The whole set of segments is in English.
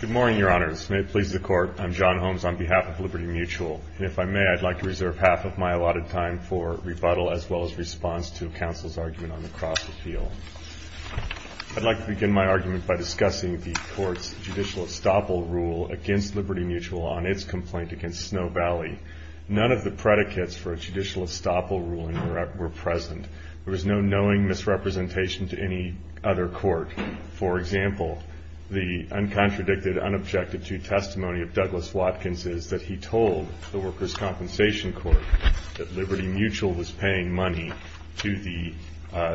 Good morning, Your Honors. May it please the Court, I'm John Holmes on behalf of Liberty Mutual, and if I may, I'd like to reserve half of my allotted time for rebuttal as well as response to counsel's argument on the cross-appeal. I'd like to begin my argument by discussing the Court's judicial estoppel rule against Liberty Mutual on its complaint against Snow Valley. None of the predicates for a judicial estoppel ruling were present. There was no knowing misrepresentation to any other court. For example, the uncontradicted, unobjected-to testimony of Douglas Watkins is that he told the Workers' Compensation Court that Liberty Mutual was paying money to the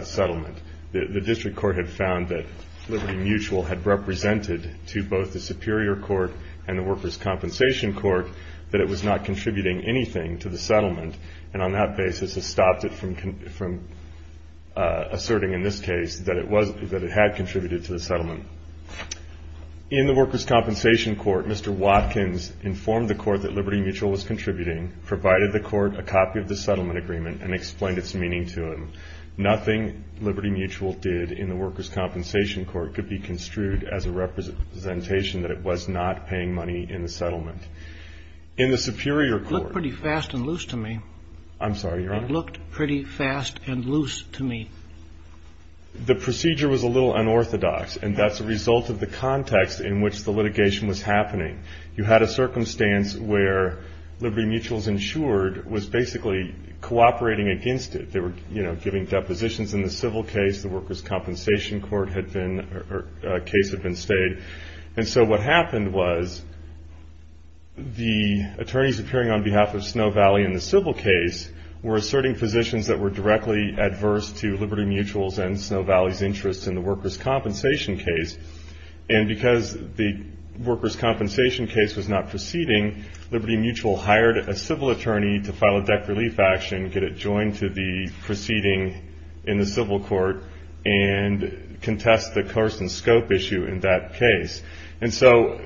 settlement. The district court had found that Liberty Mutual had represented to both the Superior Court and the Workers' Compensation Court that it was not contributing anything to the settlement, and on that basis has stopped it from asserting in this case that it had contributed to the settlement. In the Workers' Compensation Court, Mr. Watkins informed the Court that Liberty Mutual was contributing, provided the Court a copy of the settlement agreement, and explained its meaning to him. Nothing Liberty Mutual did in the Workers' Compensation Court could be construed as a representation that it was not paying money in the settlement. In the Superior Court- It looked pretty fast and loose to me. I'm sorry, Your Honor? It looked pretty fast and loose to me. The procedure was a little unorthodox, and that's a result of the context in which the litigation was happening. You had a circumstance where Liberty Mutual's insured was basically cooperating against it. They were, you know, giving depositions in the civil case. The Workers' Compensation Court had been, or a case had been stayed. And so what happened was the attorneys appearing on behalf of Snow Valley in the civil case were asserting positions that were directly adverse to Liberty Mutual's and Snow Valley's interests in the Workers' Compensation case. And because the Workers' Compensation case was not proceeding, Liberty Mutual hired a civil attorney to file a deck relief action, get it joined to the proceeding in the civil court, and contest the course and scope issue in that case. And so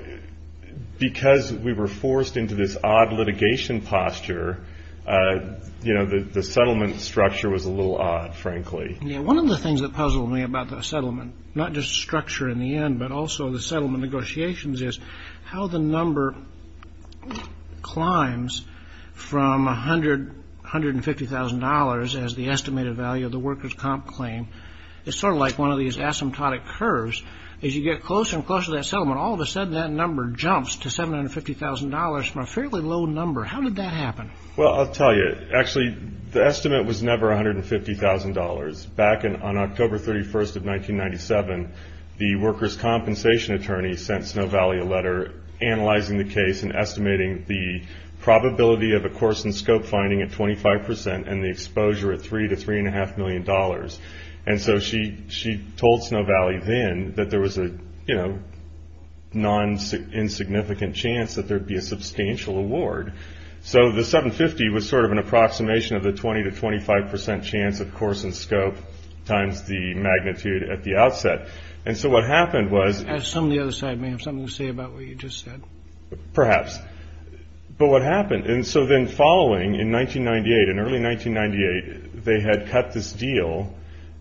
because we were forced into this odd litigation posture, you know, the settlement structure was a little odd, frankly. Yeah, one of the things that puzzled me about the settlement, not just structure in the end, but also the settlement negotiations, is how the number climbs from $150,000 as the estimated value of the Workers' Comp claim. It's sort of like one of these asymptotic curves. As you get closer and closer to that settlement, all of a sudden that number jumps to $750,000 from a fairly low number. How did that happen? Well, I'll tell you. Actually, the estimate was never $150,000. Back on October 31st of 1997, the Workers' Compensation attorney sent Snow Valley a letter analyzing the case and estimating the probability of a course and scope finding at 25% and the exposure at $3 to $3.5 million. And so she told Snow Valley then that there was a, you know, non-insignificant chance that there would be a substantial award. So the $750,000 was sort of an approximation of the 20 to 25% chance of course and scope times the magnitude at the outset. And so what happened was… I assume the other side may have something to say about what you just said. Perhaps. But what happened? And so then following in 1998, in early 1998, they had cut this deal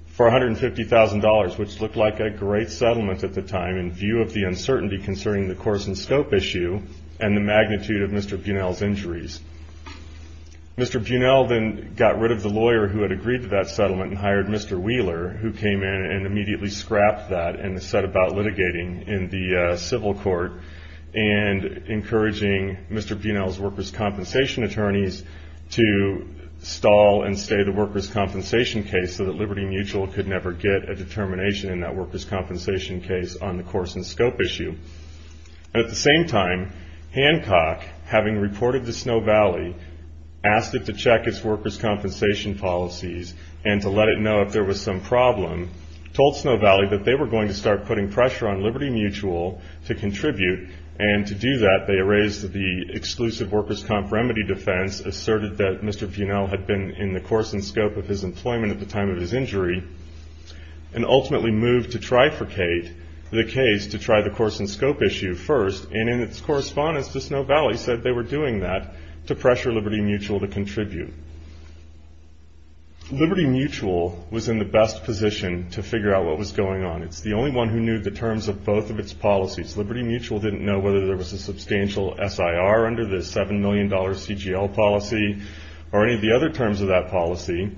for $150,000, which looked like a great settlement at the time in view of the uncertainty concerning the course and scope issue and the magnitude of Mr. Buenel's injuries. Mr. Buenel then got rid of the lawyer who had agreed to that settlement and hired Mr. Wheeler, who came in and immediately scrapped that and set about litigating in the civil court and encouraging Mr. Buenel's Workers' Compensation attorneys to stall and stay the Workers' Compensation case so that Liberty Mutual could never get a determination in that Workers' Compensation case on the course and scope issue. At the same time, Hancock, having reported to Snow Valley, asked it to check its Workers' Compensation policies and to let it know if there was some problem, told Snow Valley that they were going to start putting pressure on Liberty Mutual to contribute. And to do that, they erased the exclusive Workers' Comp remedy defense, asserted that Mr. Buenel had been in the course and scope of his employment at the time of his injury, and ultimately moved to trifurcate the case to try the course and scope issue first, and in its correspondence to Snow Valley said they were doing that to pressure Liberty Mutual to contribute. Liberty Mutual was in the best position to figure out what was going on. It's the only one who knew the terms of both of its policies. Liberty Mutual didn't know whether there was a substantial SIR under the $7 million CGL policy or any of the other terms of that policy.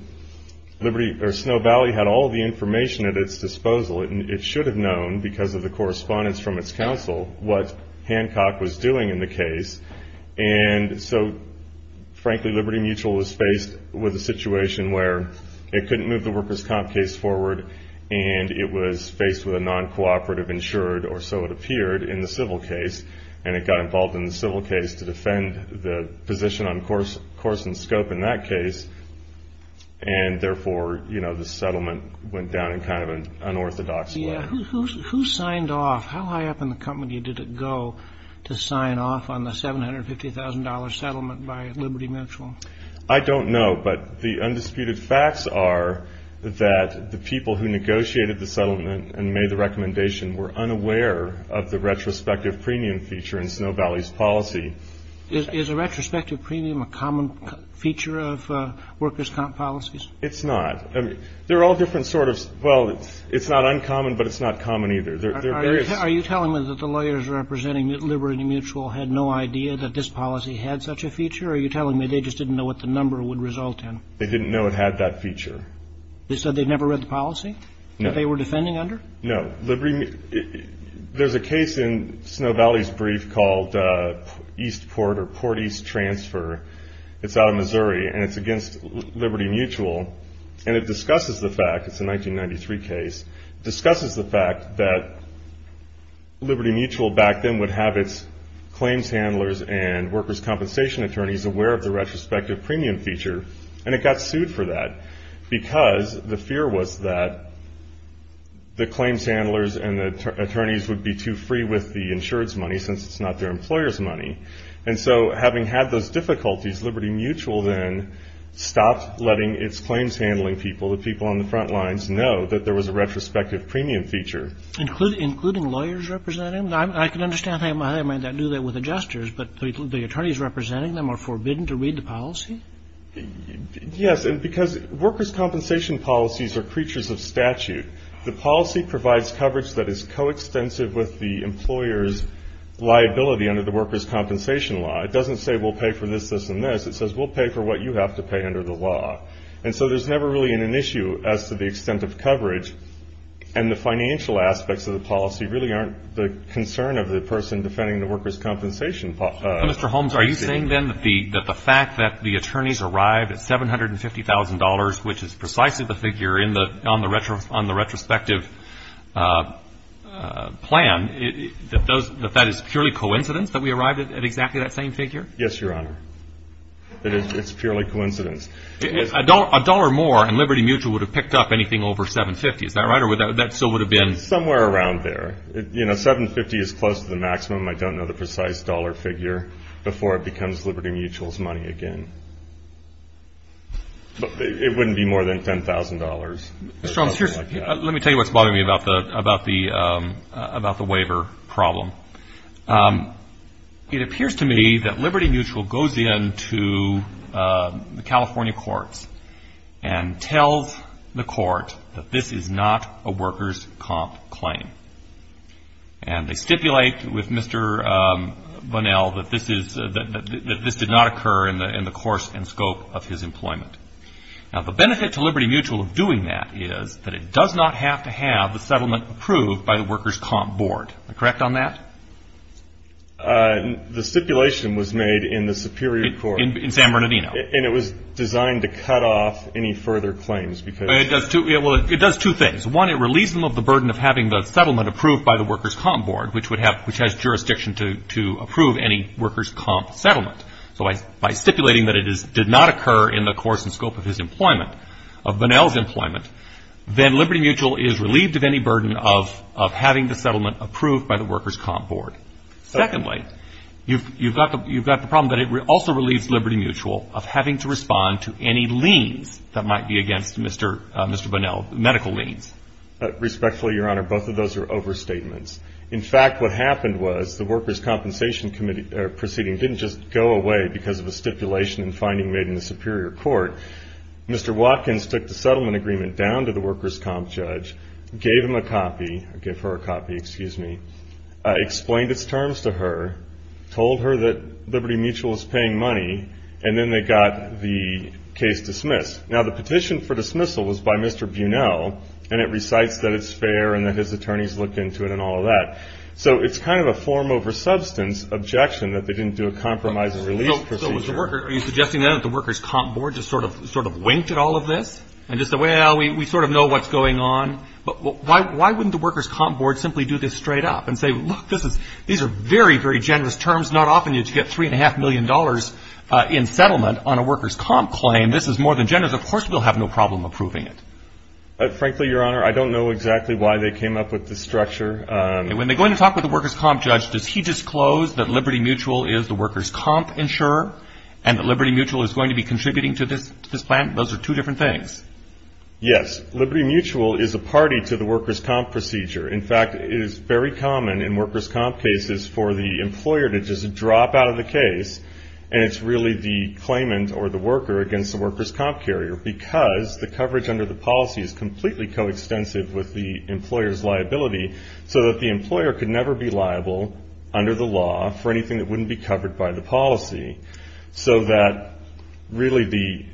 Snow Valley had all the information at its disposal. It should have known, because of the correspondence from its counsel, what Hancock was doing in the case. And so, frankly, Liberty Mutual was faced with a situation where it couldn't move the Workers' Comp case forward and it was faced with a non-cooperative insured, or so it appeared in the civil case, and it got involved in the civil case to defend the position on course and scope in that case, and therefore the settlement went down in kind of an unorthodox way. Who signed off? How high up in the company did it go to sign off on the $750,000 settlement by Liberty Mutual? I don't know, but the undisputed facts are that the people who negotiated the settlement and made the recommendation were unaware of the retrospective premium feature in Snow Valley's policy. Is a retrospective premium a common feature of Workers' Comp policies? It's not. They're all different sort of – well, it's not uncommon, but it's not common either. Are you telling me that the lawyers representing Liberty Mutual had no idea that this policy had such a feature, or are you telling me they just didn't know what the number would result in? They didn't know it had that feature. They said they'd never read the policy? No. That they were defending under? No. There's a case in Snow Valley's brief called East Port or Port East Transfer. It's out of Missouri, and it's against Liberty Mutual, and it discusses the fact – it's a 1993 case – discusses the fact that Liberty Mutual back then would have its claims handlers and Workers' Compensation attorneys aware of the retrospective premium feature, and it got sued for that because the fear was that the claims handlers and the attorneys would be too free with the insurance money since it's not their employer's money. And so having had those difficulties, Liberty Mutual then stopped letting its claims handling people, the people on the front lines, know that there was a retrospective premium feature. Including lawyers representing them? I can understand how they might not do that with adjusters, but the attorneys representing them are forbidden to read the policy? Yes, because Workers' Compensation policies are creatures of statute. The policy provides coverage that is coextensive with the employer's liability under the Workers' Compensation law. It doesn't say we'll pay for this, this, and this. It says we'll pay for what you have to pay under the law. And so there's never really an issue as to the extent of coverage, and the financial aspects of the policy really aren't the concern of the person defending the Workers' Compensation policy. Mr. Holmes, are you saying, then, that the fact that the attorneys arrived at $750,000, which is precisely the figure on the retrospective plan, that that is purely coincidence that we arrived at exactly that same figure? Yes, Your Honor. It's purely coincidence. A dollar more and Liberty Mutual would have picked up anything over $750,000. Is that right? Or that still would have been? Somewhere around there. You know, $750,000 is close to the maximum. I don't know the precise dollar figure before it becomes Liberty Mutual's money again. But it wouldn't be more than $10,000. Mr. Holmes, let me tell you what's bothering me about the waiver problem. It appears to me that Liberty Mutual goes in to the California courts and tells the court that this is not a Workers' Comp claim. And they stipulate with Mr. Bunnell that this did not occur in the course and scope of his employment. Now, the benefit to Liberty Mutual of doing that is that it does not have to have the settlement approved by the Workers' Comp Board. Am I correct on that? The stipulation was made in the Superior Court. In San Bernardino. And it was designed to cut off any further claims because It does two things. One, it relieves them of the burden of having the settlement approved by the Workers' Comp Board, which has jurisdiction to approve any Workers' Comp settlement. So by stipulating that it did not occur in the course and scope of his employment, of Bunnell's employment, then Liberty Mutual is relieved of any burden of having the settlement approved by the Workers' Comp Board. Secondly, you've got the problem that it also relieves Liberty Mutual of having to respond to any liens that might be against Mr. Bunnell, medical liens. Respectfully, Your Honor, both of those are overstatements. In fact, what happened was the Workers' Compensation Committee proceeding didn't just go away because of a stipulation and finding made in the Superior Court. Mr. Watkins took the settlement agreement down to the Workers' Comp judge, gave him a copy, gave her a copy, excuse me, explained its terms to her, told her that Liberty Mutual was paying money, and then they got the case dismissed. Now, the petition for dismissal was by Mr. Bunnell, and it recites that it's fair and that his attorneys looked into it and all of that. So it's kind of a form over substance objection that they didn't do a compromise and release procedure. Are you suggesting then that the Workers' Comp Board just sort of winked at all of this and just said, well, we sort of know what's going on, but why wouldn't the Workers' Comp Board simply do this straight up and say, look, these are very, very generous terms. Not often did you get $3.5 million in settlement on a Workers' Comp claim. This is more than generous. Of course we'll have no problem approving it. Frankly, Your Honor, I don't know exactly why they came up with this structure. When they go in to talk with the Workers' Comp judge, does he disclose that Liberty Mutual is the Workers' Comp insurer and that Liberty Mutual is going to be contributing to this plan? Those are two different things. Yes. Liberty Mutual is a party to the Workers' Comp procedure. In fact, it is very common in Workers' Comp cases for the employer to just drop out of the case and it's really the claimant or the worker against the Workers' Comp carrier because the coverage under the policy is completely coextensive with the employer's liability so that the employer could never be liable under the law for anything that wouldn't be covered by the policy so that really the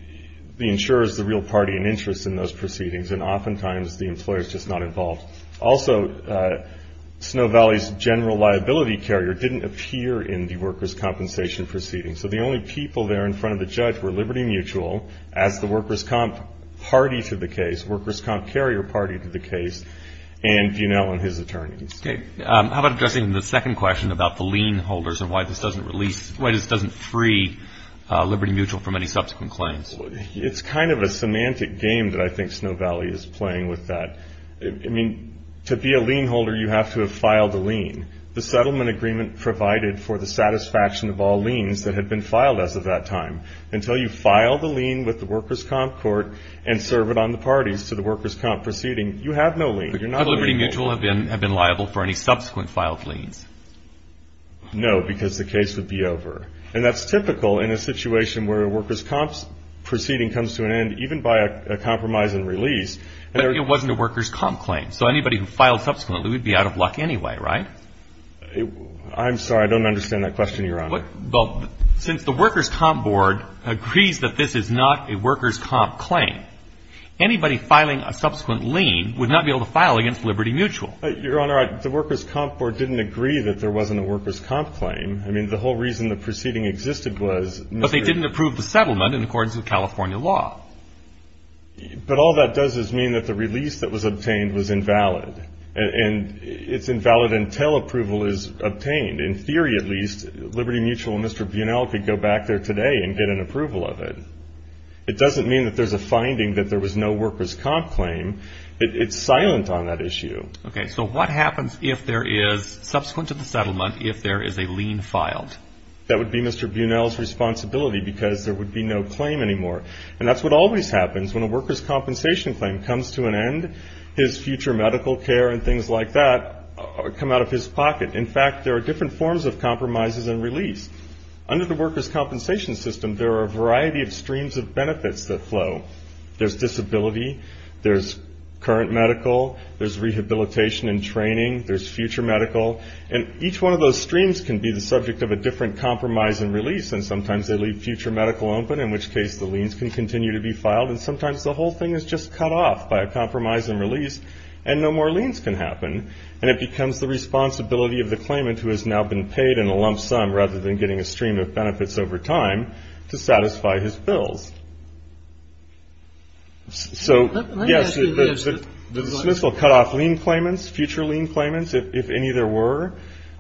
insurer is the real party in interest in those proceedings and oftentimes the employer is just not involved. Also, Snow Valley's general liability carrier didn't appear in the Workers' Compensation proceedings so the only people there in front of the judge were Liberty Mutual, as the Workers' Comp party to the case, Workers' Comp carrier party to the case, and Bunnell and his attorneys. Okay. How about addressing the second question about the lien holders and why this doesn't free Liberty Mutual from any subsequent claims? It's kind of a semantic game that I think Snow Valley is playing with that. I mean, to be a lien holder you have to have filed a lien. The settlement agreement provided for the satisfaction of all liens that had been filed as of that time. Until you file the lien with the Workers' Comp court and serve it on the parties to the Workers' Comp proceeding, you have no lien. Could Liberty Mutual have been liable for any subsequent filed liens? No, because the case would be over. And that's typical in a situation where a Workers' Comp proceeding comes to an end, even by a compromise and release. But it wasn't a Workers' Comp claim. So anybody who filed subsequently would be out of luck anyway, right? I'm sorry. I don't understand that question, Your Honor. Well, since the Workers' Comp board agrees that this is not a Workers' Comp claim, anybody filing a subsequent lien would not be able to file against Liberty Mutual. Your Honor, the Workers' Comp board didn't agree that there wasn't a Workers' Comp claim. I mean, the whole reason the proceeding existed was Mr. But they didn't approve the settlement in accordance with California law. But all that does is mean that the release that was obtained was invalid. And it's invalid until approval is obtained. In theory, at least, Liberty Mutual and Mr. Buenel could go back there today and get an approval of it. It doesn't mean that there's a finding that there was no Workers' Comp claim. It's silent on that issue. Okay. So what happens if there is, subsequent to the settlement, if there is a lien filed? That would be Mr. Buenel's responsibility because there would be no claim anymore. And that's what always happens when a Workers' Compensation claim comes to an end. His future medical care and things like that come out of his pocket. In fact, there are different forms of compromises and release. Under the Workers' Compensation system, there are a variety of streams of benefits that flow. There's disability. There's current medical. There's rehabilitation and training. There's future medical. And each one of those streams can be the subject of a different compromise and release. And sometimes they leave future medical open, in which case the liens can continue to be filed. And sometimes the whole thing is just cut off by a compromise and release, and no more liens can happen. And it becomes the responsibility of the claimant, who has now been paid in a lump sum, rather than getting a stream of benefits over time, to satisfy his bills. So, yes, the dismissal cut off lien claimants, future lien claimants, if any there were.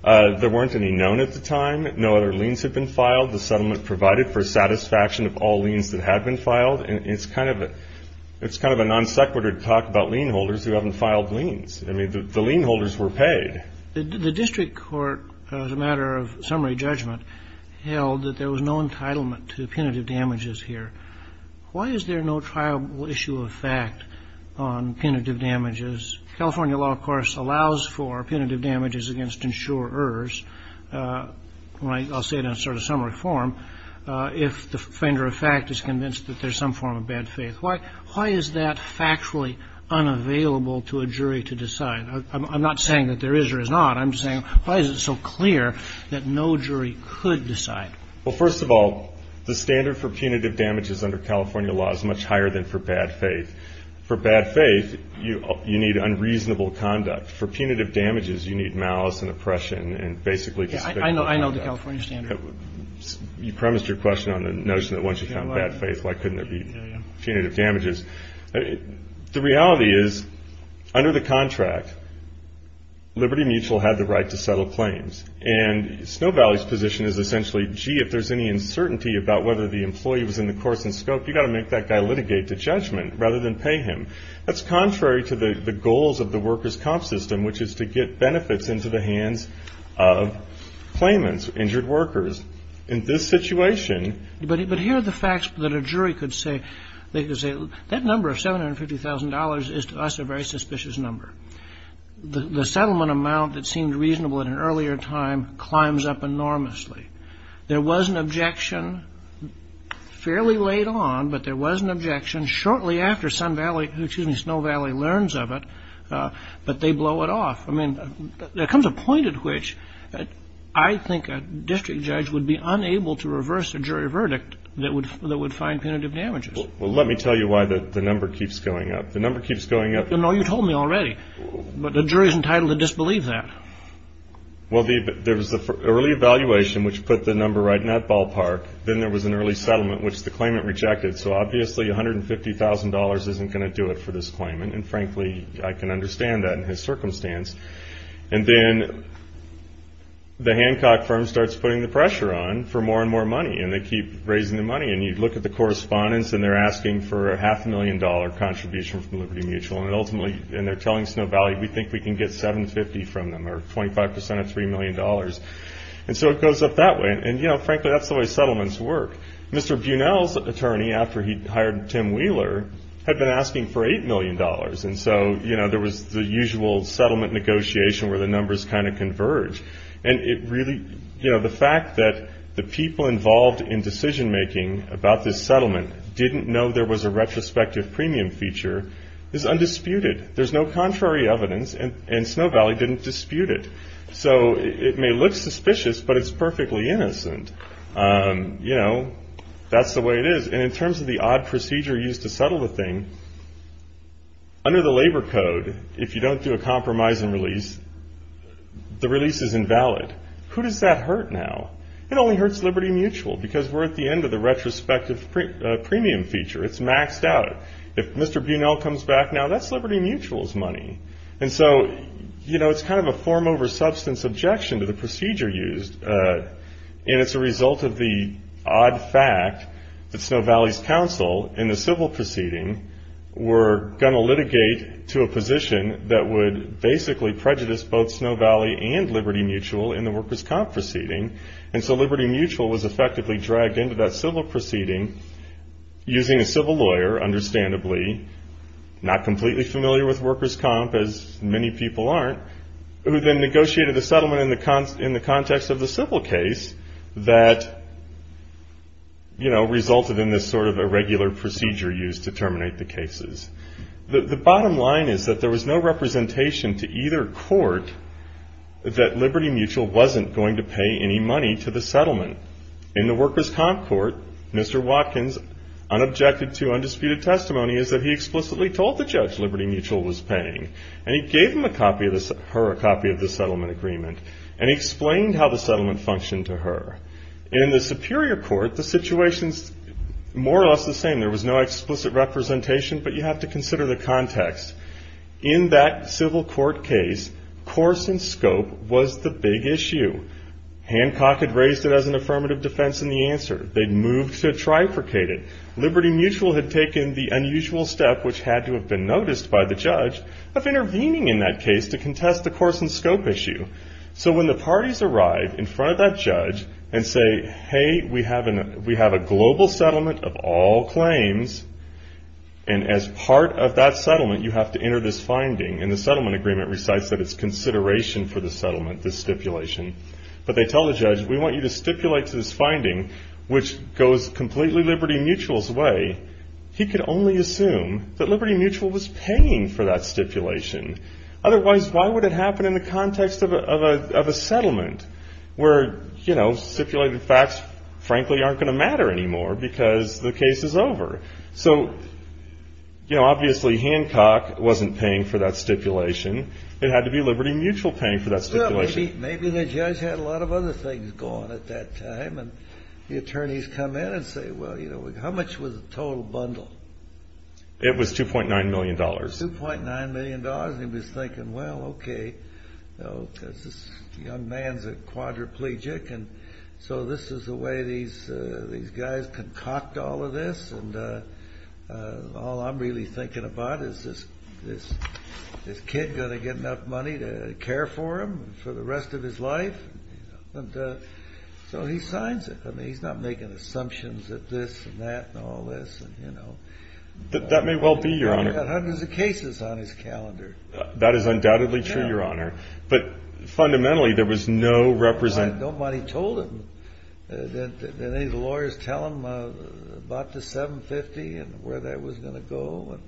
There weren't any known at the time. No other liens had been filed. The settlement provided for satisfaction of all liens that had been filed. And it's kind of a non-sequitur to talk about lien holders who haven't filed liens. I mean, the lien holders were paid. The district court, as a matter of summary judgment, held that there was no entitlement to punitive damages here. Why is there no trialable issue of fact on punitive damages? California law, of course, allows for punitive damages against insurers. I'll say it in sort of summary form. If the offender of fact is convinced that there's some form of bad faith, why is that factually unavailable to a jury to decide? I'm not saying that there is or is not. I'm saying why is it so clear that no jury could decide? Well, first of all, the standard for punitive damages under California law is much higher than for bad faith. For bad faith, you need unreasonable conduct. For punitive damages, you need malice and oppression and basically discipline. I know the California standard. You premised your question on the notion that once you found bad faith, why couldn't there be punitive damages? The reality is, under the contract, Liberty Mutual had the right to settle claims. And Snow Valley's position is essentially, gee, if there's any uncertainty about whether the employee was in the course and scope, you've got to make that guy litigate the judgment rather than pay him. That's contrary to the goals of the workers' comp system, which is to get benefits into the hands of claimants, injured workers. In this situation ---- But here are the facts that a jury could say. They could say that number of $750,000 is to us a very suspicious number. The settlement amount that seemed reasonable at an earlier time climbs up enormously. There was an objection fairly late on, but there was an objection shortly after Snow Valley learns of it, but they blow it off. I mean, there comes a point at which I think a district judge would be unable to reverse a jury verdict that would find punitive damages. Well, let me tell you why the number keeps going up. The number keeps going up ---- No, you told me already. But the jury's entitled to disbelieve that. Well, there was an early evaluation, which put the number right in that ballpark. Then there was an early settlement, which the claimant rejected. So, obviously, $150,000 isn't going to do it for this claimant. And, frankly, I can understand that in his circumstance. And then the Hancock firm starts putting the pressure on for more and more money, and they keep raising the money. And you look at the correspondence, and they're asking for a half-million-dollar contribution from Liberty Mutual. And ultimately, they're telling Snow Valley, we think we can get $750,000 from them, or 25% of $3 million. And so it goes up that way. And, frankly, that's the way settlements work. Mr. Bunnell's attorney, after he hired Tim Wheeler, had been asking for $8 million. And so there was the usual settlement negotiation where the numbers kind of converge. And it really, you know, the fact that the people involved in decision-making about this settlement didn't know there was a retrospective premium feature is undisputed. There's no contrary evidence, and Snow Valley didn't dispute it. So it may look suspicious, but it's perfectly innocent. You know, that's the way it is. And in terms of the odd procedure used to settle the thing, under the labor code, if you don't do a compromise and release, the release is invalid. Who does that hurt now? It only hurts Liberty Mutual because we're at the end of the retrospective premium feature. It's maxed out. If Mr. Bunnell comes back now, that's Liberty Mutual's money. And so, you know, it's kind of a form over substance objection to the procedure used. And it's a result of the odd fact that Snow Valley's counsel in the civil proceeding were going to litigate to a position that would basically prejudice both Snow Valley and Liberty Mutual in the workers' comp proceeding. And so Liberty Mutual was effectively dragged into that civil proceeding using a civil lawyer, understandably, not completely familiar with workers' comp, as many people aren't, who then negotiated the settlement in the context of the civil case that, you know, resulted in this sort of irregular procedure used to terminate the cases. The bottom line is that there was no representation to either court that Liberty Mutual wasn't going to pay any money to the settlement. In the workers' comp court, Mr. Watkins, unobjected to undisputed testimony, is that he explicitly told the judge Liberty Mutual was paying. And he gave her a copy of the settlement agreement. And he explained how the settlement functioned to her. In the superior court, the situation's more or less the same. There was no explicit representation, but you have to consider the context. In that civil court case, course and scope was the big issue. Hancock had raised it as an affirmative defense in the answer. They'd moved to trifurcate it. Liberty Mutual had taken the unusual step, which had to have been noticed by the judge, of intervening in that case to contest the course and scope issue. So when the parties arrive in front of that judge and say, hey, we have a global settlement of all claims. And as part of that settlement, you have to enter this finding. And the settlement agreement recites that it's consideration for the settlement, the stipulation. But they tell the judge, we want you to stipulate to this finding, which goes completely Liberty Mutual's way. He could only assume that Liberty Mutual was paying for that stipulation. Otherwise, why would it happen in the context of a settlement where, you know, stipulated facts frankly aren't going to matter anymore because the case is over? So, you know, obviously Hancock wasn't paying for that stipulation. It had to be Liberty Mutual paying for that stipulation. Well, maybe the judge had a lot of other things going at that time. And the attorneys come in and say, well, you know, how much was the total bundle? It was $2.9 million. $2.9 million. And he was thinking, well, okay, you know, because this young man's a quadriplegic. And so this is the way these guys concoct all of this. And all I'm really thinking about is this kid going to get enough money to care for him for the rest of his life? And so he signs it. I mean, he's not making assumptions that this and that and all this, you know. That may well be, Your Honor. He's got hundreds of cases on his calendar. That is undoubtedly true, Your Honor. But fundamentally there was no representation. Nobody told him. Did any of the lawyers tell him about the $7.50 and where that was going to go and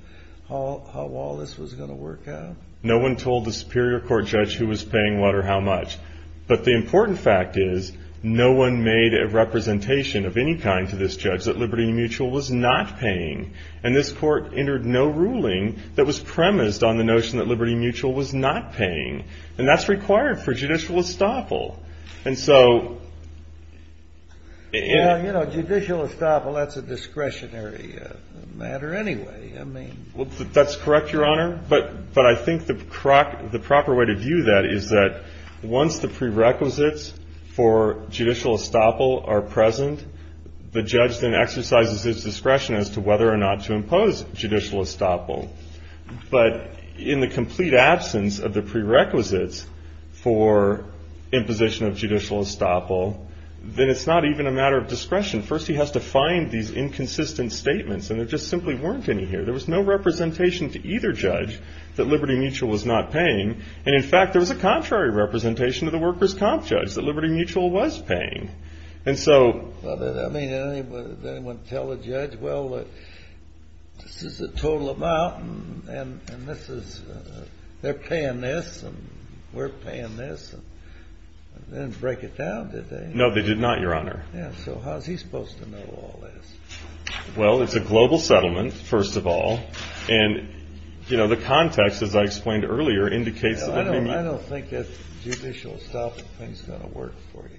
how all this was going to work out? No one told the Superior Court judge who was paying what or how much. But the important fact is no one made a representation of any kind to this judge that Liberty Mutual was not paying. And this Court entered no ruling that was premised on the notion that Liberty Mutual was not paying. And that's required for judicial estoppel. And so — Well, you know, judicial estoppel, that's a discretionary matter anyway. I mean — Well, that's correct, Your Honor. But I think the proper way to view that is that once the prerequisites for judicial estoppel are present, the judge then exercises his discretion as to whether or not to impose judicial estoppel. But in the complete absence of the prerequisites for imposition of judicial estoppel, then it's not even a matter of discretion. First he has to find these inconsistent statements. And there just simply weren't any here. There was no representation to either judge that Liberty Mutual was not paying. And, in fact, there was a contrary representation to the workers' comp judge that Liberty Mutual was paying. And so — I mean, did anyone tell the judge, well, this is the total amount, and this is — they're paying this, and we're paying this? They didn't break it down, did they? No, they did not, Your Honor. Yeah. So how is he supposed to know all this? Well, it's a global settlement, first of all. And, you know, the context, as I explained earlier, indicates that — I don't think that judicial estoppel thing is going to work for you.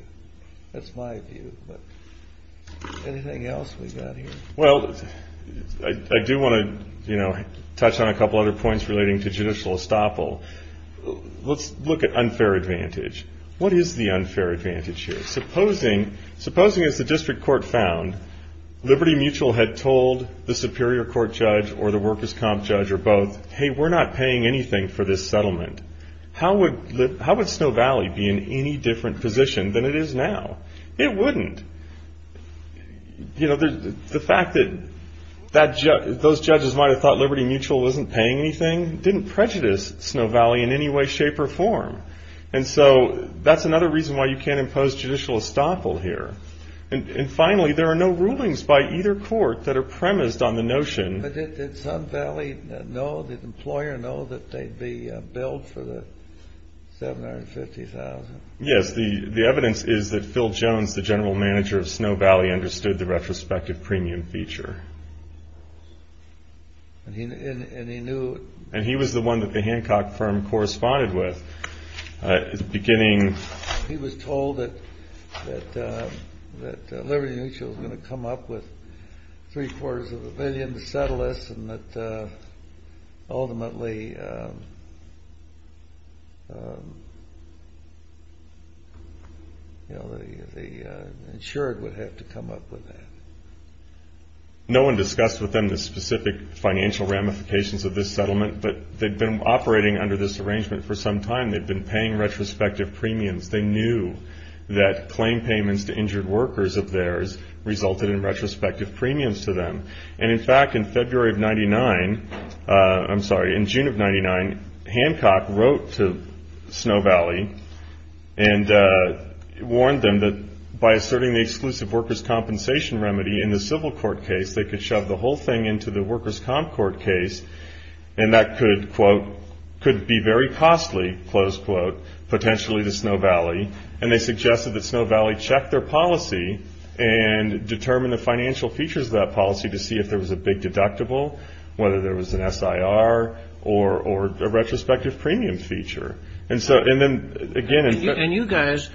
That's my view. But anything else we got here? Well, I do want to, you know, touch on a couple other points relating to judicial estoppel. Let's look at unfair advantage. What is the unfair advantage here? Supposing, as the district court found, Liberty Mutual had told the superior court judge or the workers' comp judge or both, hey, we're not paying anything for this settlement. How would Snow Valley be in any different position than it is now? It wouldn't. You know, the fact that those judges might have thought Liberty Mutual wasn't paying anything didn't prejudice Snow Valley in any way, shape, or form. And so that's another reason why you can't impose judicial estoppel here. And finally, there are no rulings by either court that are premised on the notion — Does the employer know that they'd be billed for the $750,000? Yes. The evidence is that Phil Jones, the general manager of Snow Valley, understood the retrospective premium feature. And he knew — And he was the one that the Hancock firm corresponded with beginning — Ultimately, you know, the insured would have to come up with that. No one discussed with them the specific financial ramifications of this settlement, but they'd been operating under this arrangement for some time. They'd been paying retrospective premiums. They knew that claim payments to injured workers of theirs resulted in retrospective premiums to them. And in fact, in February of 99 — I'm sorry, in June of 99, Hancock wrote to Snow Valley and warned them that by asserting the exclusive workers' compensation remedy in the civil court case, they could shove the whole thing into the workers' comp court case. And that could, quote, could be very costly, close quote, potentially to Snow Valley. And they suggested that Snow Valley check their policy and determine the financial features of that policy to see if there was a big deductible, whether there was an SIR or a retrospective premium feature. And so — and then, again — And you guys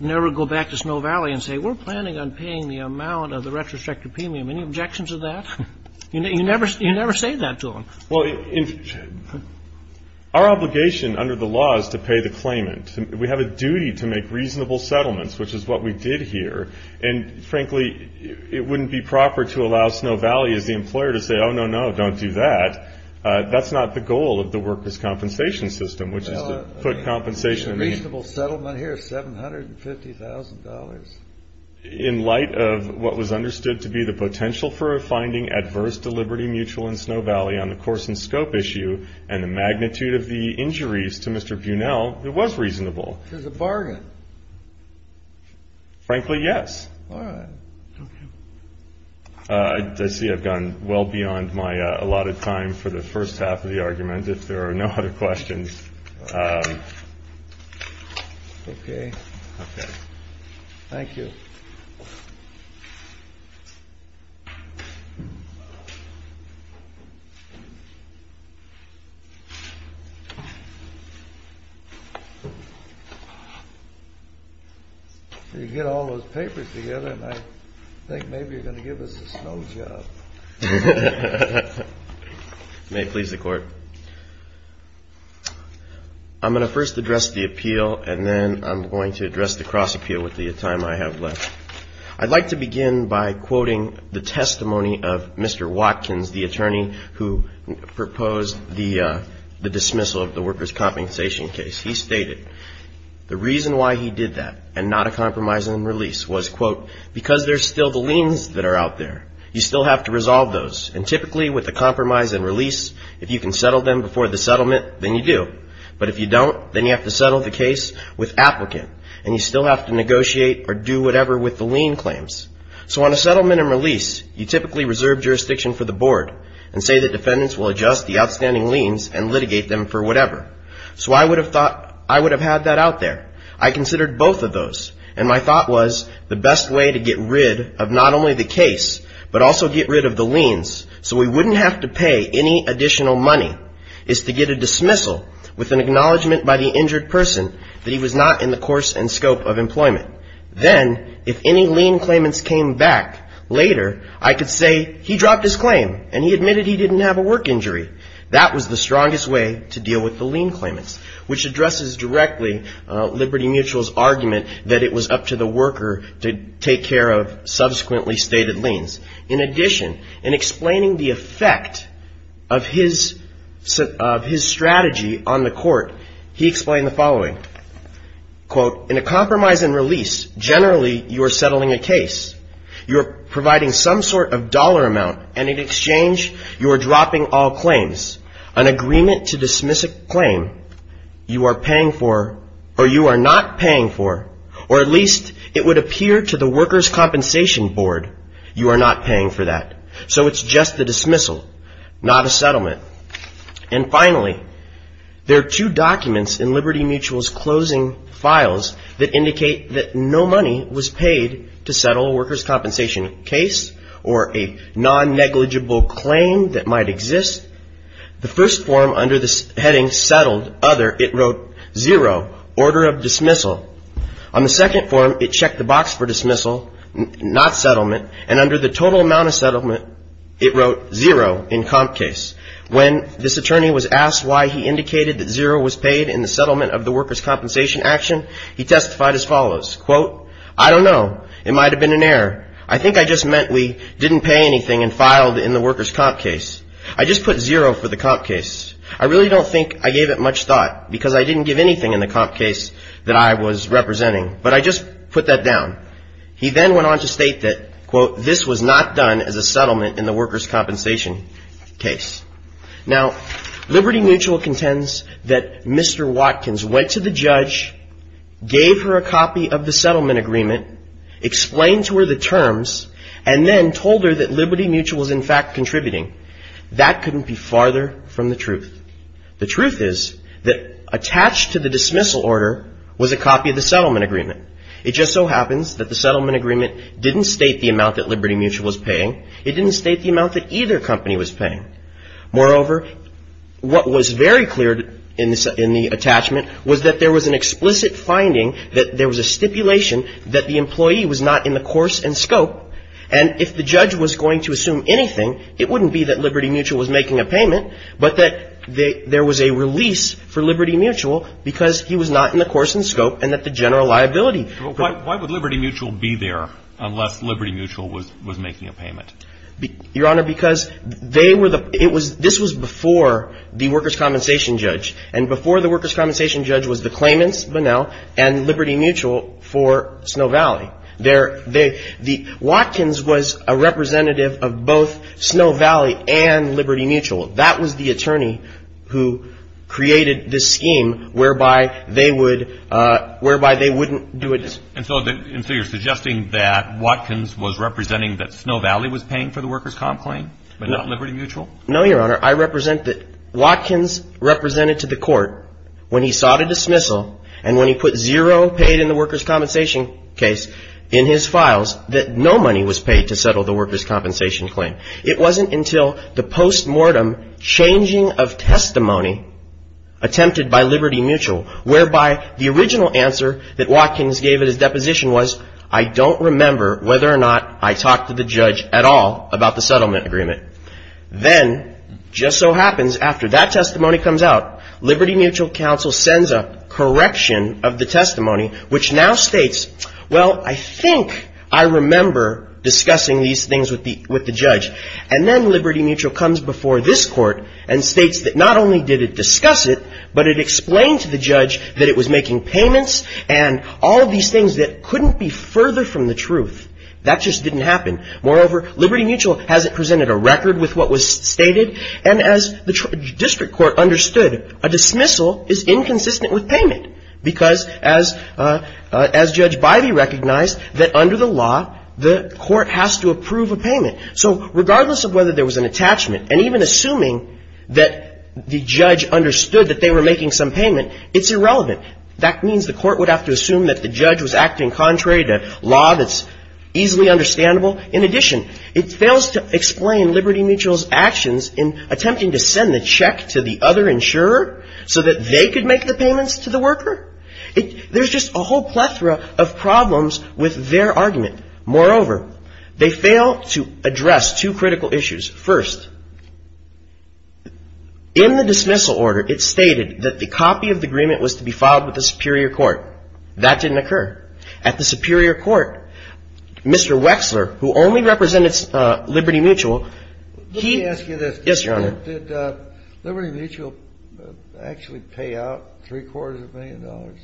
never go back to Snow Valley and say, we're planning on paying the amount of the retrospective premium. Any objections to that? You never say that to them. Well, our obligation under the law is to pay the claimant. We have a duty to make reasonable settlements, which is what we did here. And frankly, it wouldn't be proper to allow Snow Valley, as the employer, to say, oh, no, no, don't do that. That's not the goal of the workers' compensation system, which is to put compensation — A reasonable settlement here is $750,000. In light of what was understood to be the potential for a finding adverse to Liberty Mutual and Snow Valley on the course and scope issue and the magnitude of the injuries to Mr. Bunnell, it was reasonable. It was a bargain. Frankly, yes. All right. Okay. I see I've gone well beyond my allotted time for the first half of the argument, if there are no other questions. Okay. Okay. Thank you. So you get all those papers together, and I think maybe you're going to give us a snow job. May it please the Court. I'm going to first address the appeal, and then I'm going to address the cross appeal with the time I have left. I'd like to begin by quoting the testimony of Mr. Watkins, the attorney who proposed the dismissal of the workers' compensation case. He stated the reason why he did that and not a compromise and release was, quote, because there's still the liens that are out there. You still have to resolve those. And typically with a compromise and release, if you can settle them before the settlement, then you do. But if you don't, then you have to settle the case with applicant, and you still have to negotiate or do whatever with the lien claims. So on a settlement and release, you typically reserve jurisdiction for the board and say that defendants will adjust the outstanding liens and litigate them for whatever. So I would have thought I would have had that out there. I considered both of those, and my thought was the best way to get rid of not only the case, but also get rid of the liens so we wouldn't have to pay any additional money is to get a dismissal with an acknowledgment by the injured person that he was not in the course and scope of employment. Then if any lien claimants came back later, I could say he dropped his claim and he admitted he didn't have a work injury. That was the strongest way to deal with the lien claimants, which addresses directly Liberty Mutual's argument that it was up to the worker to take care of subsequently stated liens. In addition, in explaining the effect of his strategy on the court, he explained the following. Quote, in a compromise and release, generally you are settling a case. You are providing some sort of dollar amount, and in exchange you are dropping all claims. An agreement to dismiss a claim you are paying for or you are not paying for, or at least it would appear to the workers' compensation board you are not paying for that. So it's just the dismissal, not a settlement. And finally, there are two documents in Liberty Mutual's closing files that indicate that no money was paid to settle a workers' compensation case or a non-negligible claim that might exist. The first form under the heading settled, other, it wrote zero, order of dismissal. On the second form, it checked the box for dismissal, not settlement. And under the total amount of settlement, it wrote zero in comp case. When this attorney was asked why he indicated that zero was paid in the settlement of the workers' compensation action, he testified as follows. Quote, I don't know. It might have been an error. I think I just meant we didn't pay anything and filed in the workers' comp case. I just put zero for the comp case. I really don't think I gave it much thought because I didn't give anything in the comp case that I was representing. But I just put that down. He then went on to state that, quote, this was not done as a settlement in the workers' compensation case. Now, Liberty Mutual contends that Mr. Watkins went to the judge, gave her a copy of the settlement agreement, explained to her the terms, and then told her that Liberty Mutual was in fact contributing. That couldn't be farther from the truth. The truth is that attached to the dismissal order was a copy of the settlement agreement. It just so happens that the settlement agreement didn't state the amount that Liberty Mutual was paying. It didn't state the amount that either company was paying. Moreover, what was very clear in the attachment was that there was an explicit finding that there was a stipulation that the employee was not in the course and scope. And if the judge was going to assume anything, it wouldn't be that Liberty Mutual was making a payment, but that there was a release for Liberty Mutual because he was not in the course and scope and that the general liability. Why would Liberty Mutual be there unless Liberty Mutual was making a payment? Your Honor, because they were the – it was – this was before the workers' compensation judge. And before the workers' compensation judge was the claimants, Bunnell, and Liberty Mutual for Snow Valley. They're – the – Watkins was a representative of both Snow Valley and Liberty Mutual. That was the attorney who created this scheme whereby they would – whereby they wouldn't do a – And so you're suggesting that Watkins was representing that Snow Valley was paying for the workers' comp claim, but not Liberty Mutual? No, Your Honor, I represent that Watkins represented to the court when he sought a dismissal and when he put zero paid in the workers' compensation case in his files that no money was paid to settle the workers' compensation claim. It wasn't until the postmortem changing of testimony attempted by Liberty Mutual whereby the original answer that Watkins gave at his deposition was, I don't remember whether or not I talked to the judge at all about the settlement agreement. Then, just so happens, after that testimony comes out, Liberty Mutual counsel sends a correction of the testimony which now states, well, I think I remember discussing these things with the judge. And then Liberty Mutual comes before this court and states that not only did it discuss it, but it explained to the judge that it was making payments and all of these things that couldn't be further from the truth. That just didn't happen. Moreover, Liberty Mutual hasn't presented a record with what was stated. And as the district court understood, a dismissal is inconsistent with payment because as Judge Bivey recognized, that under the law, the court has to approve a payment. So regardless of whether there was an attachment, and even assuming that the judge understood that they were making some payment, it's irrelevant. That means the court would have to assume that the judge was acting contrary to law that's easily understandable in addition, it fails to explain Liberty Mutual's actions in attempting to send the check to the other insurer so that they could make the payments to the worker. There's just a whole plethora of problems with their argument. Moreover, they fail to address two critical issues. First, in the dismissal order, it stated that the copy of the agreement was to be filed with the superior court. That didn't occur. At the superior court, Mr. Wexler, who only represented Liberty Mutual, he ---- Let me ask you this. Yes, Your Honor. Did Liberty Mutual actually pay out three-quarters of a million dollars?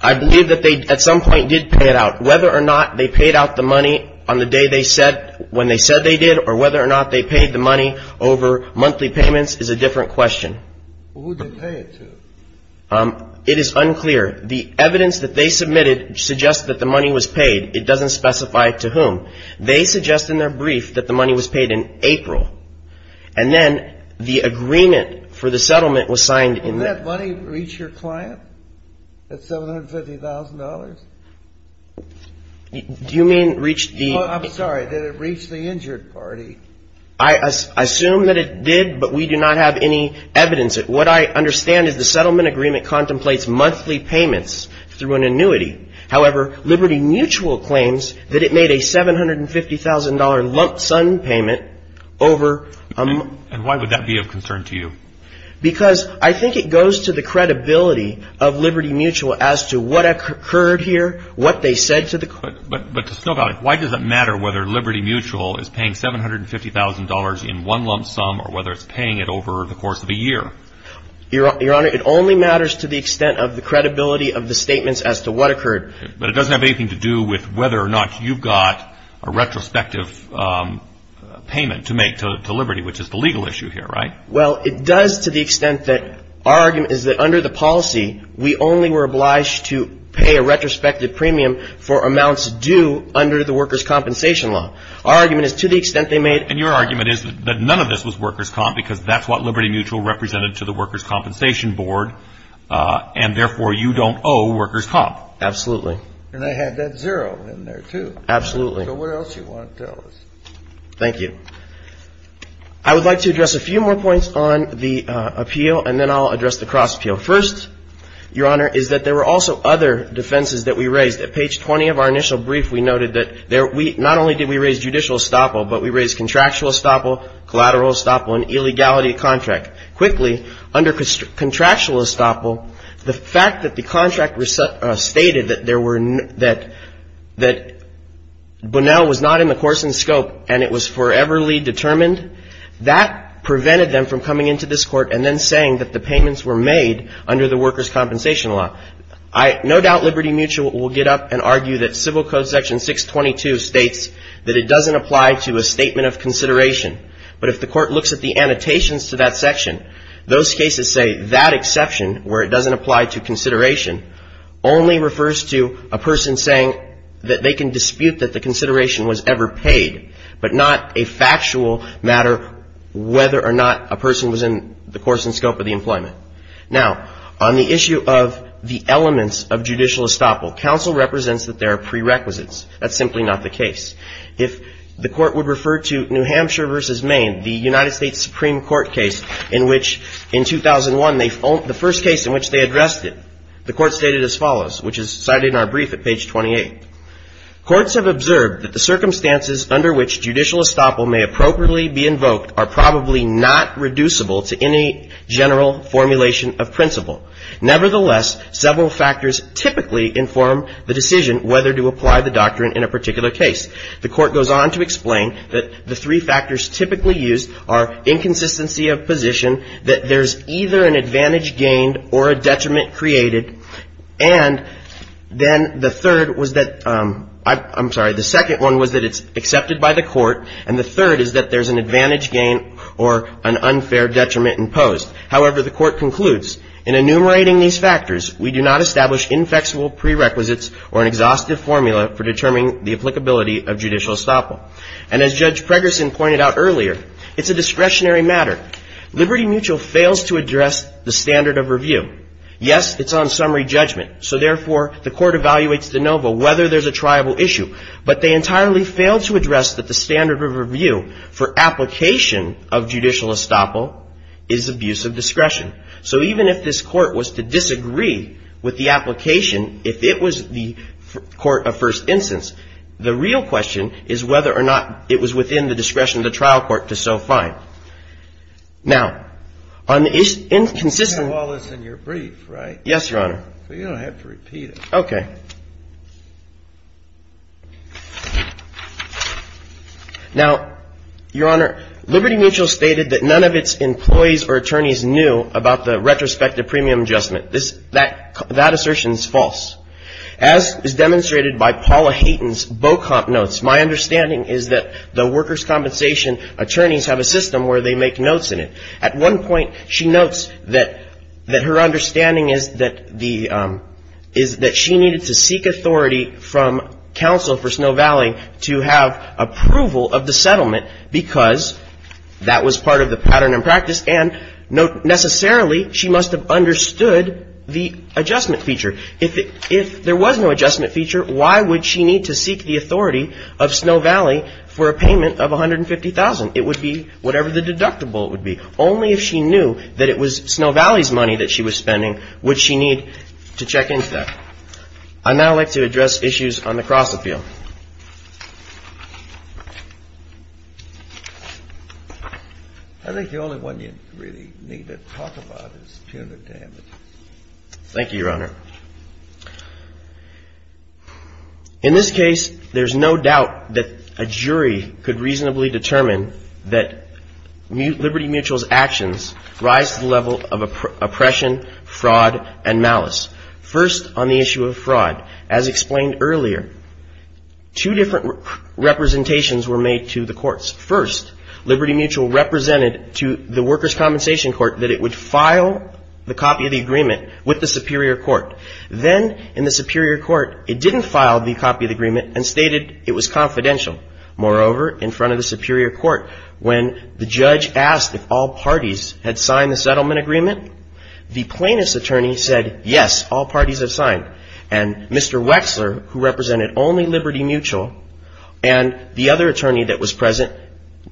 I believe that they at some point did pay it out. Whether or not they paid out the money on the day they said when they said they did or whether or not they paid the money over monthly payments is a different question. Who did they pay it to? It is unclear. The evidence that they submitted suggests that the money was paid. It doesn't specify to whom. They suggest in their brief that the money was paid in April. And then the agreement for the settlement was signed in the ---- Didn't that money reach your client at $750,000? Do you mean reach the ---- I'm sorry. Did it reach the injured party? I assume that it did, but we do not have any evidence. What I understand is the settlement agreement contemplates monthly payments through an annuity. However, Liberty Mutual claims that it made a $750,000 lump sum payment over ---- And why would that be of concern to you? Because I think it goes to the credibility of Liberty Mutual as to what occurred here, what they said to the ---- Why does it matter whether Liberty Mutual is paying $750,000 in one lump sum or whether it's paying it over the course of a year? Your Honor, it only matters to the extent of the credibility of the statements as to what occurred. But it doesn't have anything to do with whether or not you've got a retrospective payment to make to Liberty, which is the legal issue here, right? Well, it does to the extent that our argument is that under the policy, we only were obliged to pay a retrospective premium for amounts due under the workers' compensation law. Our argument is to the extent they made ---- And your argument is that none of this was workers' comp because that's what Liberty Mutual represented to the workers' compensation board, and therefore you don't owe workers' comp. Absolutely. And they had that zero in there, too. Absolutely. So what else do you want to tell us? Thank you. I would like to address a few more points on the appeal, and then I'll address the cross-appeal. First, your Honor, is that there were also other defenses that we raised. At page 20 of our initial brief, we noted that there we ---- not only did we raise judicial estoppel, but we raised contractual estoppel, collateral estoppel, and illegality of contract. Quickly, under contractual estoppel, the fact that the contract stated that there were ---- that Bonnell was not in the course and scope and it was foreverly determined, that prevented them from coming into this Court and then saying that the payments were made under the workers' compensation law. I ---- no doubt Liberty Mutual will get up and argue that Civil Code section 622 states that it doesn't apply to a statement of consideration. But if the Court looks at the annotations to that section, those cases say that exception, where it doesn't apply to consideration, only refers to a person saying that they can dispute that the consideration was ever paid, but not a factual matter whether or not a person was in the course and scope of the employment. Now, on the issue of the elements of judicial estoppel, counsel represents that there are prerequisites. That's simply not the case. If the Court would refer to New Hampshire v. Maine, the United States Supreme Court case in which in 2001, the first case in which they addressed it, the Court stated as follows, which is cited in our brief at page 28. Courts have observed that the circumstances under which judicial estoppel may appropriately be invoked are probably not reducible to any general formulation of principle. Nevertheless, several factors typically inform the decision whether to apply the doctrine in a particular case. The Court goes on to explain that the three factors typically used are inconsistency of position, that there's either an advantage gained or a detriment created, and then the third was that — I'm sorry. The second one was that it's accepted by the Court, and the third is that there's an advantage gained or an unfair detriment imposed. However, the Court concludes, in enumerating these factors, we do not establish inflexible prerequisites or an exhaustive formula for determining the applicability of judicial estoppel. And as Judge Pregerson pointed out earlier, it's a discretionary matter. Liberty Mutual fails to address the standard of review. Yes, it's on summary judgment, so therefore the Court evaluates de novo whether there's a triable issue, but they entirely fail to address that the standard of review for application of judicial estoppel is abuse of discretion. So even if this Court was to disagree with the application, if it was the court of first instance, the real question is whether or not it was within the discretion of the trial court to so find. Now, on the — You have all this in your brief, right? Yes, Your Honor. Well, you don't have to repeat it. Okay. Now, Your Honor, Liberty Mutual stated that none of its employees or attorneys knew about the retrospective premium adjustment. That assertion is false. As is demonstrated by Paula Hayton's Bocomp notes, my understanding is that the workers' compensation attorneys have a system where they make notes in it. At one point, she notes that her understanding is that the — is that she needed to seek authority from counsel for Snow Valley to have approval of the settlement because that was part of the pattern and practice, and necessarily she must have understood the adjustment feature. If there was no adjustment feature, why would she need to seek the authority of Snow Valley for a payment of $150,000? It would be whatever the deductible would be. Only if she knew that it was Snow Valley's money that she was spending would she need to check into that. I'd now like to address issues on the cross-appeal. I think the only one you really need to talk about is punitive damages. Thank you, Your Honor. In this case, there's no doubt that a jury could reasonably determine that Liberty Mutual's actions rise to the level of oppression, fraud, and malice. First, on the issue of fraud, as explained earlier, two different representations were made to the courts. First, Liberty Mutual represented to the workers' compensation court that it would file the copy of the agreement with the superior court. Then, in the superior court, it didn't file the copy of the agreement and stated it was confidential. Moreover, in front of the superior court, when the judge asked if all parties had signed the settlement agreement, the plaintiff's attorney said, yes, all parties have signed. And Mr. Wexler, who represented only Liberty Mutual, and the other attorney that was present,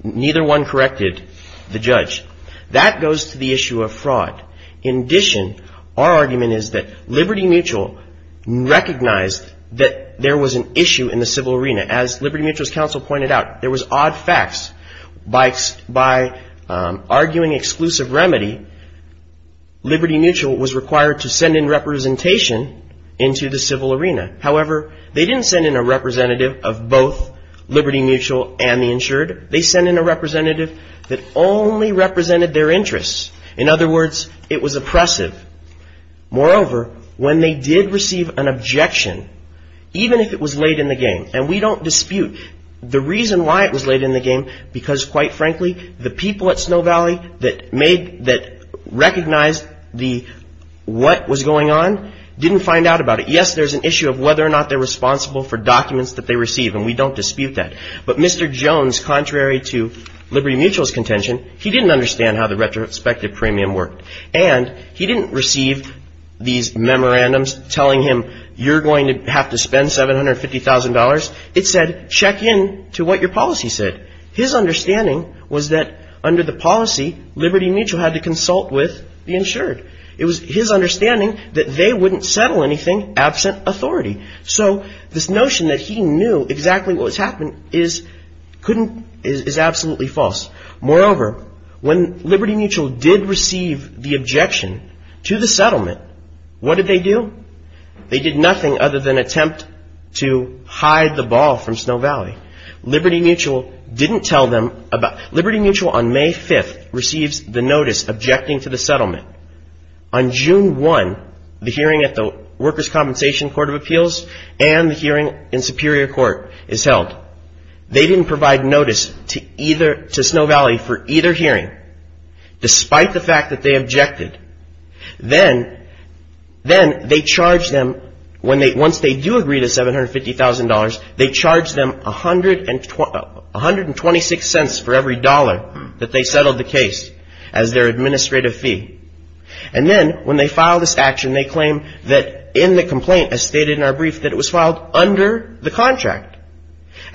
neither one corrected the judge. That goes to the issue of fraud. In addition, our argument is that Liberty Mutual recognized that there was an issue in the civil arena. As Liberty Mutual's counsel pointed out, there was odd facts. By arguing exclusive remedy, Liberty Mutual was required to send in representation into the civil arena. However, they didn't send in a representative of both Liberty Mutual and the insured. They sent in a representative that only represented their interests. In other words, it was oppressive. Moreover, when they did receive an objection, even if it was late in the game, and we don't dispute the reason why it was late in the game, because, quite frankly, the people at Snow Valley that recognized what was going on didn't find out about it. Yes, there's an issue of whether or not they're responsible for documents that they receive, and we don't dispute that. But Mr. Jones, contrary to Liberty Mutual's contention, he didn't understand how the retrospective premium worked. And he didn't receive these memorandums telling him, you're going to have to spend $750,000. It said, check in to what your policy said. His understanding was that under the policy, Liberty Mutual had to consult with the insured. It was his understanding that they wouldn't settle anything absent authority. So this notion that he knew exactly what was happening is absolutely false. Moreover, when Liberty Mutual did receive the objection to the settlement, what did they do? They did nothing other than attempt to hide the ball from Snow Valley. Liberty Mutual on May 5th receives the notice objecting to the settlement. On June 1, the hearing at the Workers' Compensation Court of Appeals and the hearing in Superior Court is held. They didn't provide notice to Snow Valley for either hearing, despite the fact that they objected. Then they charge them, once they do agree to $750,000, they charge them 126 cents for every dollar that they settled the case as their administrative fee. And then when they file this action, they claim that in the complaint, as stated in our brief, that it was filed under the contract.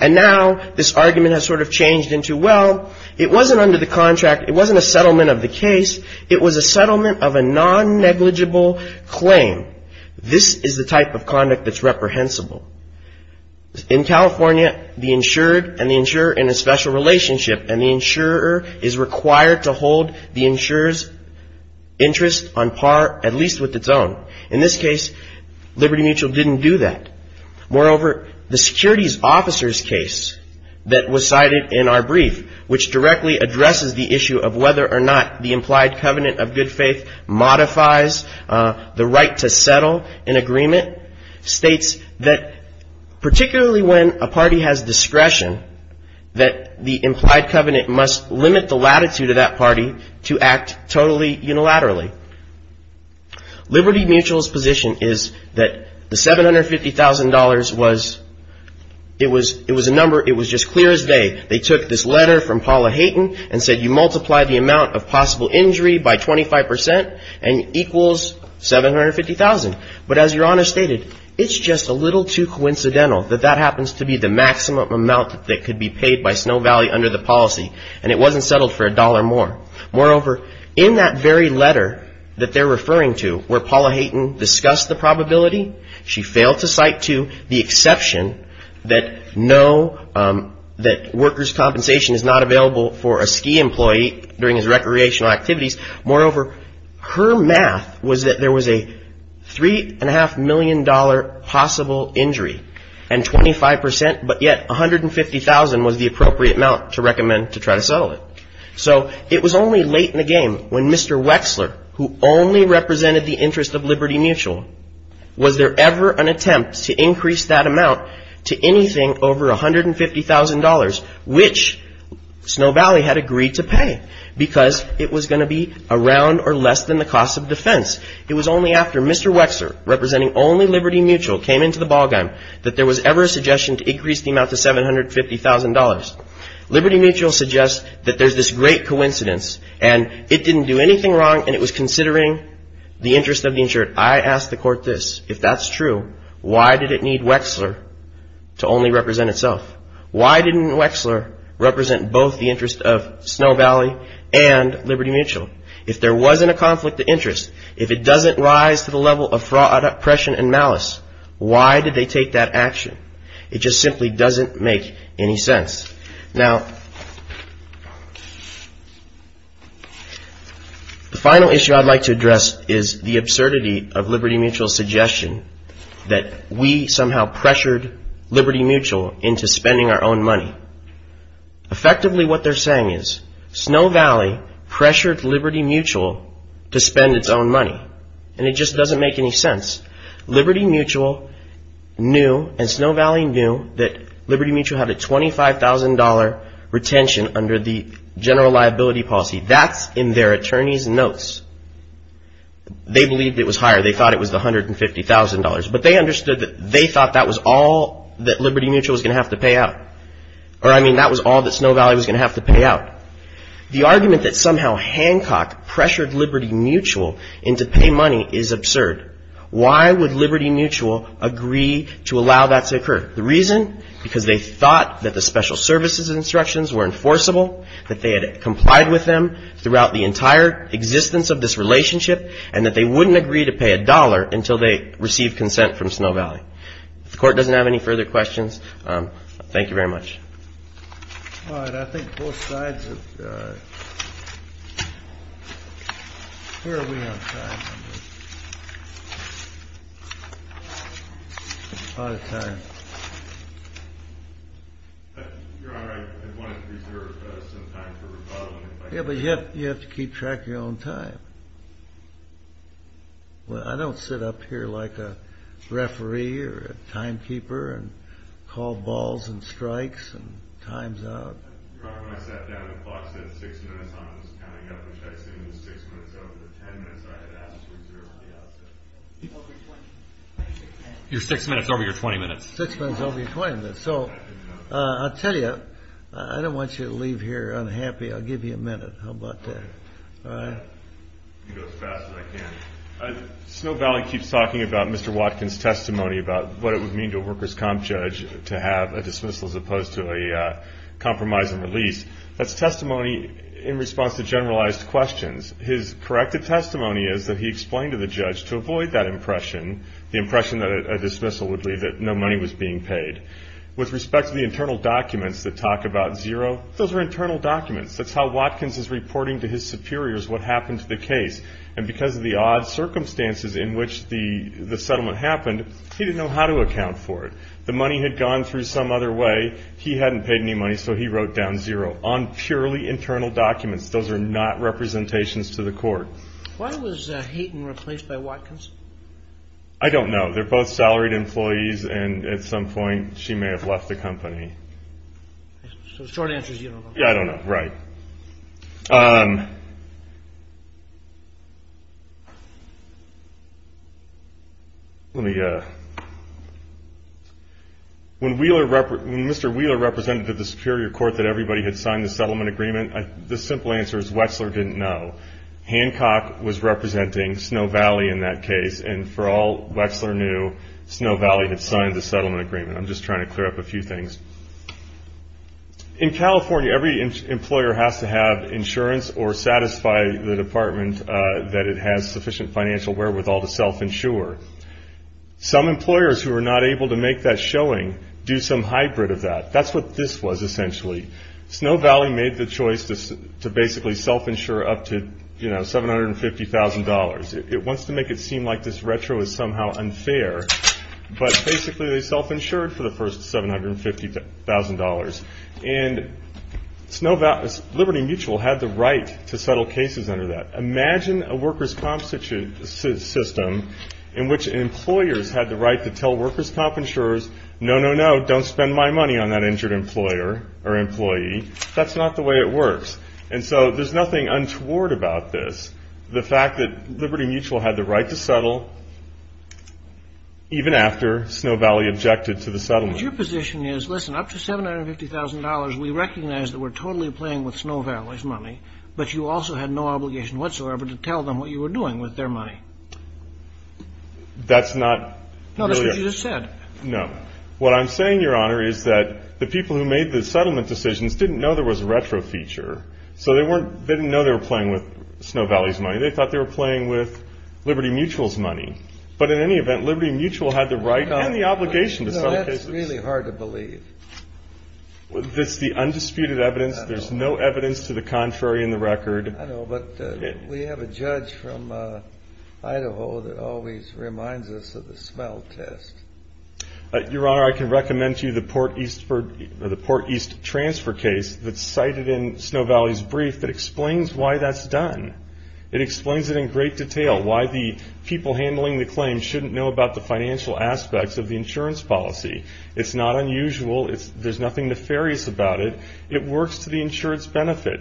And now this argument has sort of changed into, well, it wasn't under the contract. It wasn't a settlement of the case. It was a settlement of a non-negligible claim. This is the type of conduct that's reprehensible. In California, the insured and the insurer are in a special relationship. And the insurer is required to hold the insurer's interest on par, at least with its own. In this case, Liberty Mutual didn't do that. Moreover, the securities officer's case that was cited in our brief, which directly addresses the issue of whether or not the implied covenant of good faith modifies the right to settle an agreement, states that particularly when a party has discretion, that the implied covenant must limit the latitude of that party to act totally unilaterally. Liberty Mutual's position is that the $750,000 was, it was a number, it was just clear as day. They took this letter from Paula Hayton and said you multiply the amount of possible injury by 25% and equals $750,000. But as Your Honor stated, it's just a little too coincidental that that happens to be the maximum amount that could be paid by Snow Valley under the policy. And it wasn't settled for a dollar more. Moreover, in that very letter that they're referring to where Paula Hayton discussed the probability, she failed to cite to the exception that no, that workers' compensation is not available for a ski employee during his recreational activities. Moreover, her math was that there was a $3.5 million possible injury and 25%, but yet $150,000 was the appropriate amount to recommend to try to settle it. So it was only late in the game when Mr. Wexler, who only represented the interest of Liberty Mutual, was there ever an attempt to increase that amount to anything over $150,000, which Snow Valley had agreed to pay because it was going to be around or less than the cost of defense. It was only after Mr. Wexler, representing only Liberty Mutual, came into the ballgame that there was ever a suggestion to increase the amount to $750,000. Liberty Mutual suggests that there's this great coincidence and it didn't do anything wrong and it was considering the interest of the insured. I ask the court this, if that's true, why did it need Wexler to only represent itself? Why didn't Wexler represent both the interest of Snow Valley and Liberty Mutual? If there wasn't a conflict of interest, if it doesn't rise to the level of fraud, oppression, and malice, why did they take that action? It just simply doesn't make any sense. Now, the final issue I'd like to address is the absurdity of Liberty Mutual's suggestion that we somehow pressured Liberty Mutual into spending our own money. Effectively, what they're saying is Snow Valley pressured Liberty Mutual to spend its own money and it just doesn't make any sense. Liberty Mutual knew, and Snow Valley knew, that Liberty Mutual had a $25,000 retention under the general liability policy. That's in their attorney's notes. They believed it was higher. They thought it was the $150,000. But they understood that they thought that was all that Liberty Mutual was going to have to pay out. Or, I mean, that was all that Snow Valley was going to have to pay out. The argument that somehow Hancock pressured Liberty Mutual into paying money is absurd. Why would Liberty Mutual agree to allow that to occur? The reason? Because they thought that the special services instructions were enforceable, that they had complied with them throughout the entire existence of this relationship, and that they wouldn't agree to pay a dollar until they received consent from Snow Valley. If the Court doesn't have any further questions, thank you very much. All right, I think both sides have... Where are we on time? Out of time. Your Honor, I wanted to reserve some time for rebuttal. Yeah, but you have to keep track of your own time. Well, I don't sit up here like a referee or a timekeeper and call balls and strikes and time's out. Your six minutes over your 20 minutes. Six minutes over your 20 minutes. So, I'll tell you, I don't want you to leave here unhappy. I'll give you a minute. How about that? I'll go as fast as I can. Snow Valley keeps talking about Mr. Watkins' testimony about what it would mean to a workers' comp judge to have a dismissal as opposed to a compromise and release. That's testimony in response to generalized questions. His corrected testimony is that he explained to the judge, to avoid that impression, the impression that a dismissal would leave that no money was being paid. With respect to the internal documents that talk about zero, those are internal documents. That's how Watkins is reporting to his superiors what happened to the case. And because of the odd circumstances in which the settlement happened, he didn't know how to account for it. The money had gone through some other way. He hadn't paid any money, so he wrote down zero on purely internal documents. Those are not representations to the court. Why was Hayden replaced by Watkins? I don't know. They're both salaried employees, and at some point she may have left the company. So the short answer is you don't know. Yeah, I don't know. Right. When Mr. Wheeler represented to the superior court that everybody had signed the settlement agreement, the simple answer is Wetzler didn't know. Hancock was representing Snow Valley in that case, and for all Wetzler knew, Snow Valley had signed the settlement agreement. I'm just trying to clear up a few things. In California, every employer has to have insurance or satisfy the department that it has sufficient financial wherewithal to self-insure. Some employers who are not able to make that showing do some hybrid of that. That's what this was, essentially. Snow Valley made the choice to basically self-insure up to, you know, $750,000. It wants to make it seem like this retro is somehow unfair, but basically they self-insured for the first $750,000. And Liberty Mutual had the right to settle cases under that. Imagine a workers' comp system in which employers had the right to tell workers' comp insurers, no, no, no, don't spend my money on that injured employer or employee. That's not the way it works. And so there's nothing untoward about this. The fact that Liberty Mutual had the right to settle even after Snow Valley objected to the settlement. But your position is, listen, up to $750,000, we recognize that we're totally playing with Snow Valley's money, but you also had no obligation whatsoever to tell them what you were doing with their money. That's not really. No, that's what you just said. No. What I'm saying, Your Honor, is that the people who made the settlement decisions didn't know there was a retro feature, so they didn't know they were playing with Snow Valley's money. They thought they were playing with Liberty Mutual's money. But in any event, Liberty Mutual had the right and the obligation to settle cases. No, that's really hard to believe. This is the undisputed evidence. There's no evidence to the contrary in the record. I know, but we have a judge from Idaho that always reminds us of the smell test. Your Honor, I can recommend to you the Port East transfer case that's cited in Snow Valley's brief that explains why that's done. It explains it in great detail, why the people handling the claim shouldn't know about the financial aspects of the insurance policy. It's not unusual. There's nothing nefarious about it. It works to the insurance benefit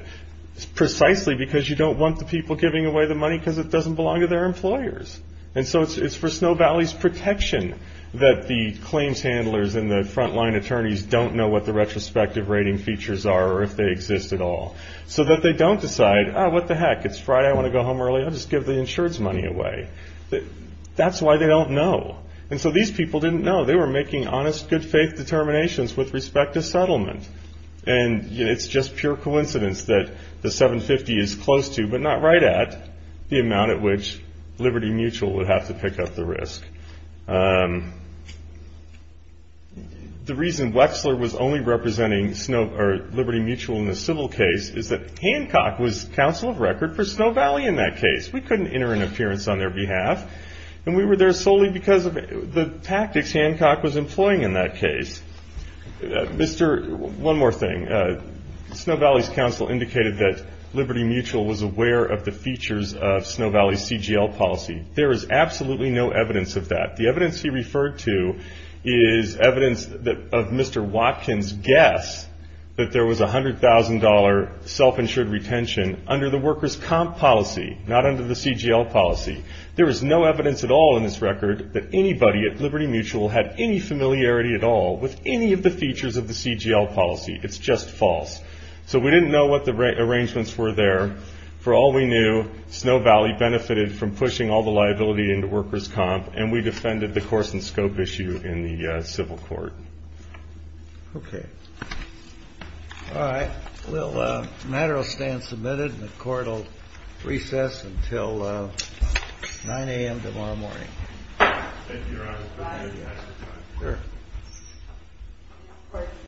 precisely because you don't want the people giving away the money because it doesn't belong to their employers. And so it's for Snow Valley's protection that the claims handlers and the front-line attorneys don't know what the retrospective rating features are or if they exist at all, so that they don't decide, oh, what the heck, it's Friday, I want to go home early, I'll just give the insurance money away. That's why they don't know. And so these people didn't know. They were making honest, good-faith determinations with respect to settlement. And it's just pure coincidence that the 750 is close to, but not right at, the amount at which Liberty Mutual would have to pick up the risk. The reason Wexler was only representing Liberty Mutual in the civil case is that Hancock was counsel of record for Snow Valley in that case. We couldn't enter an appearance on their behalf, and we were there solely because of the tactics Hancock was employing in that case. One more thing. Snow Valley's counsel indicated that Liberty Mutual was aware of the features of Snow Valley's CGL policy. There is absolutely no evidence of that. The evidence he referred to is evidence of Mr. Watkins' guess that there was $100,000 self-insured retention under the workers' comp policy, not under the CGL policy. There is no evidence at all in this record that anybody at Liberty Mutual had any familiarity at all with any of the features of the CGL policy. It's just false. So we didn't know what the arrangements were there. For all we knew, Snow Valley benefited from pushing all the liability into workers' comp, and we defended the course and scope issue in the civil court. Okay. All right. The matter will stand submitted, and the court will recess until 9 a.m. tomorrow morning. Thank you, Your Honor. Goodbye. Sure.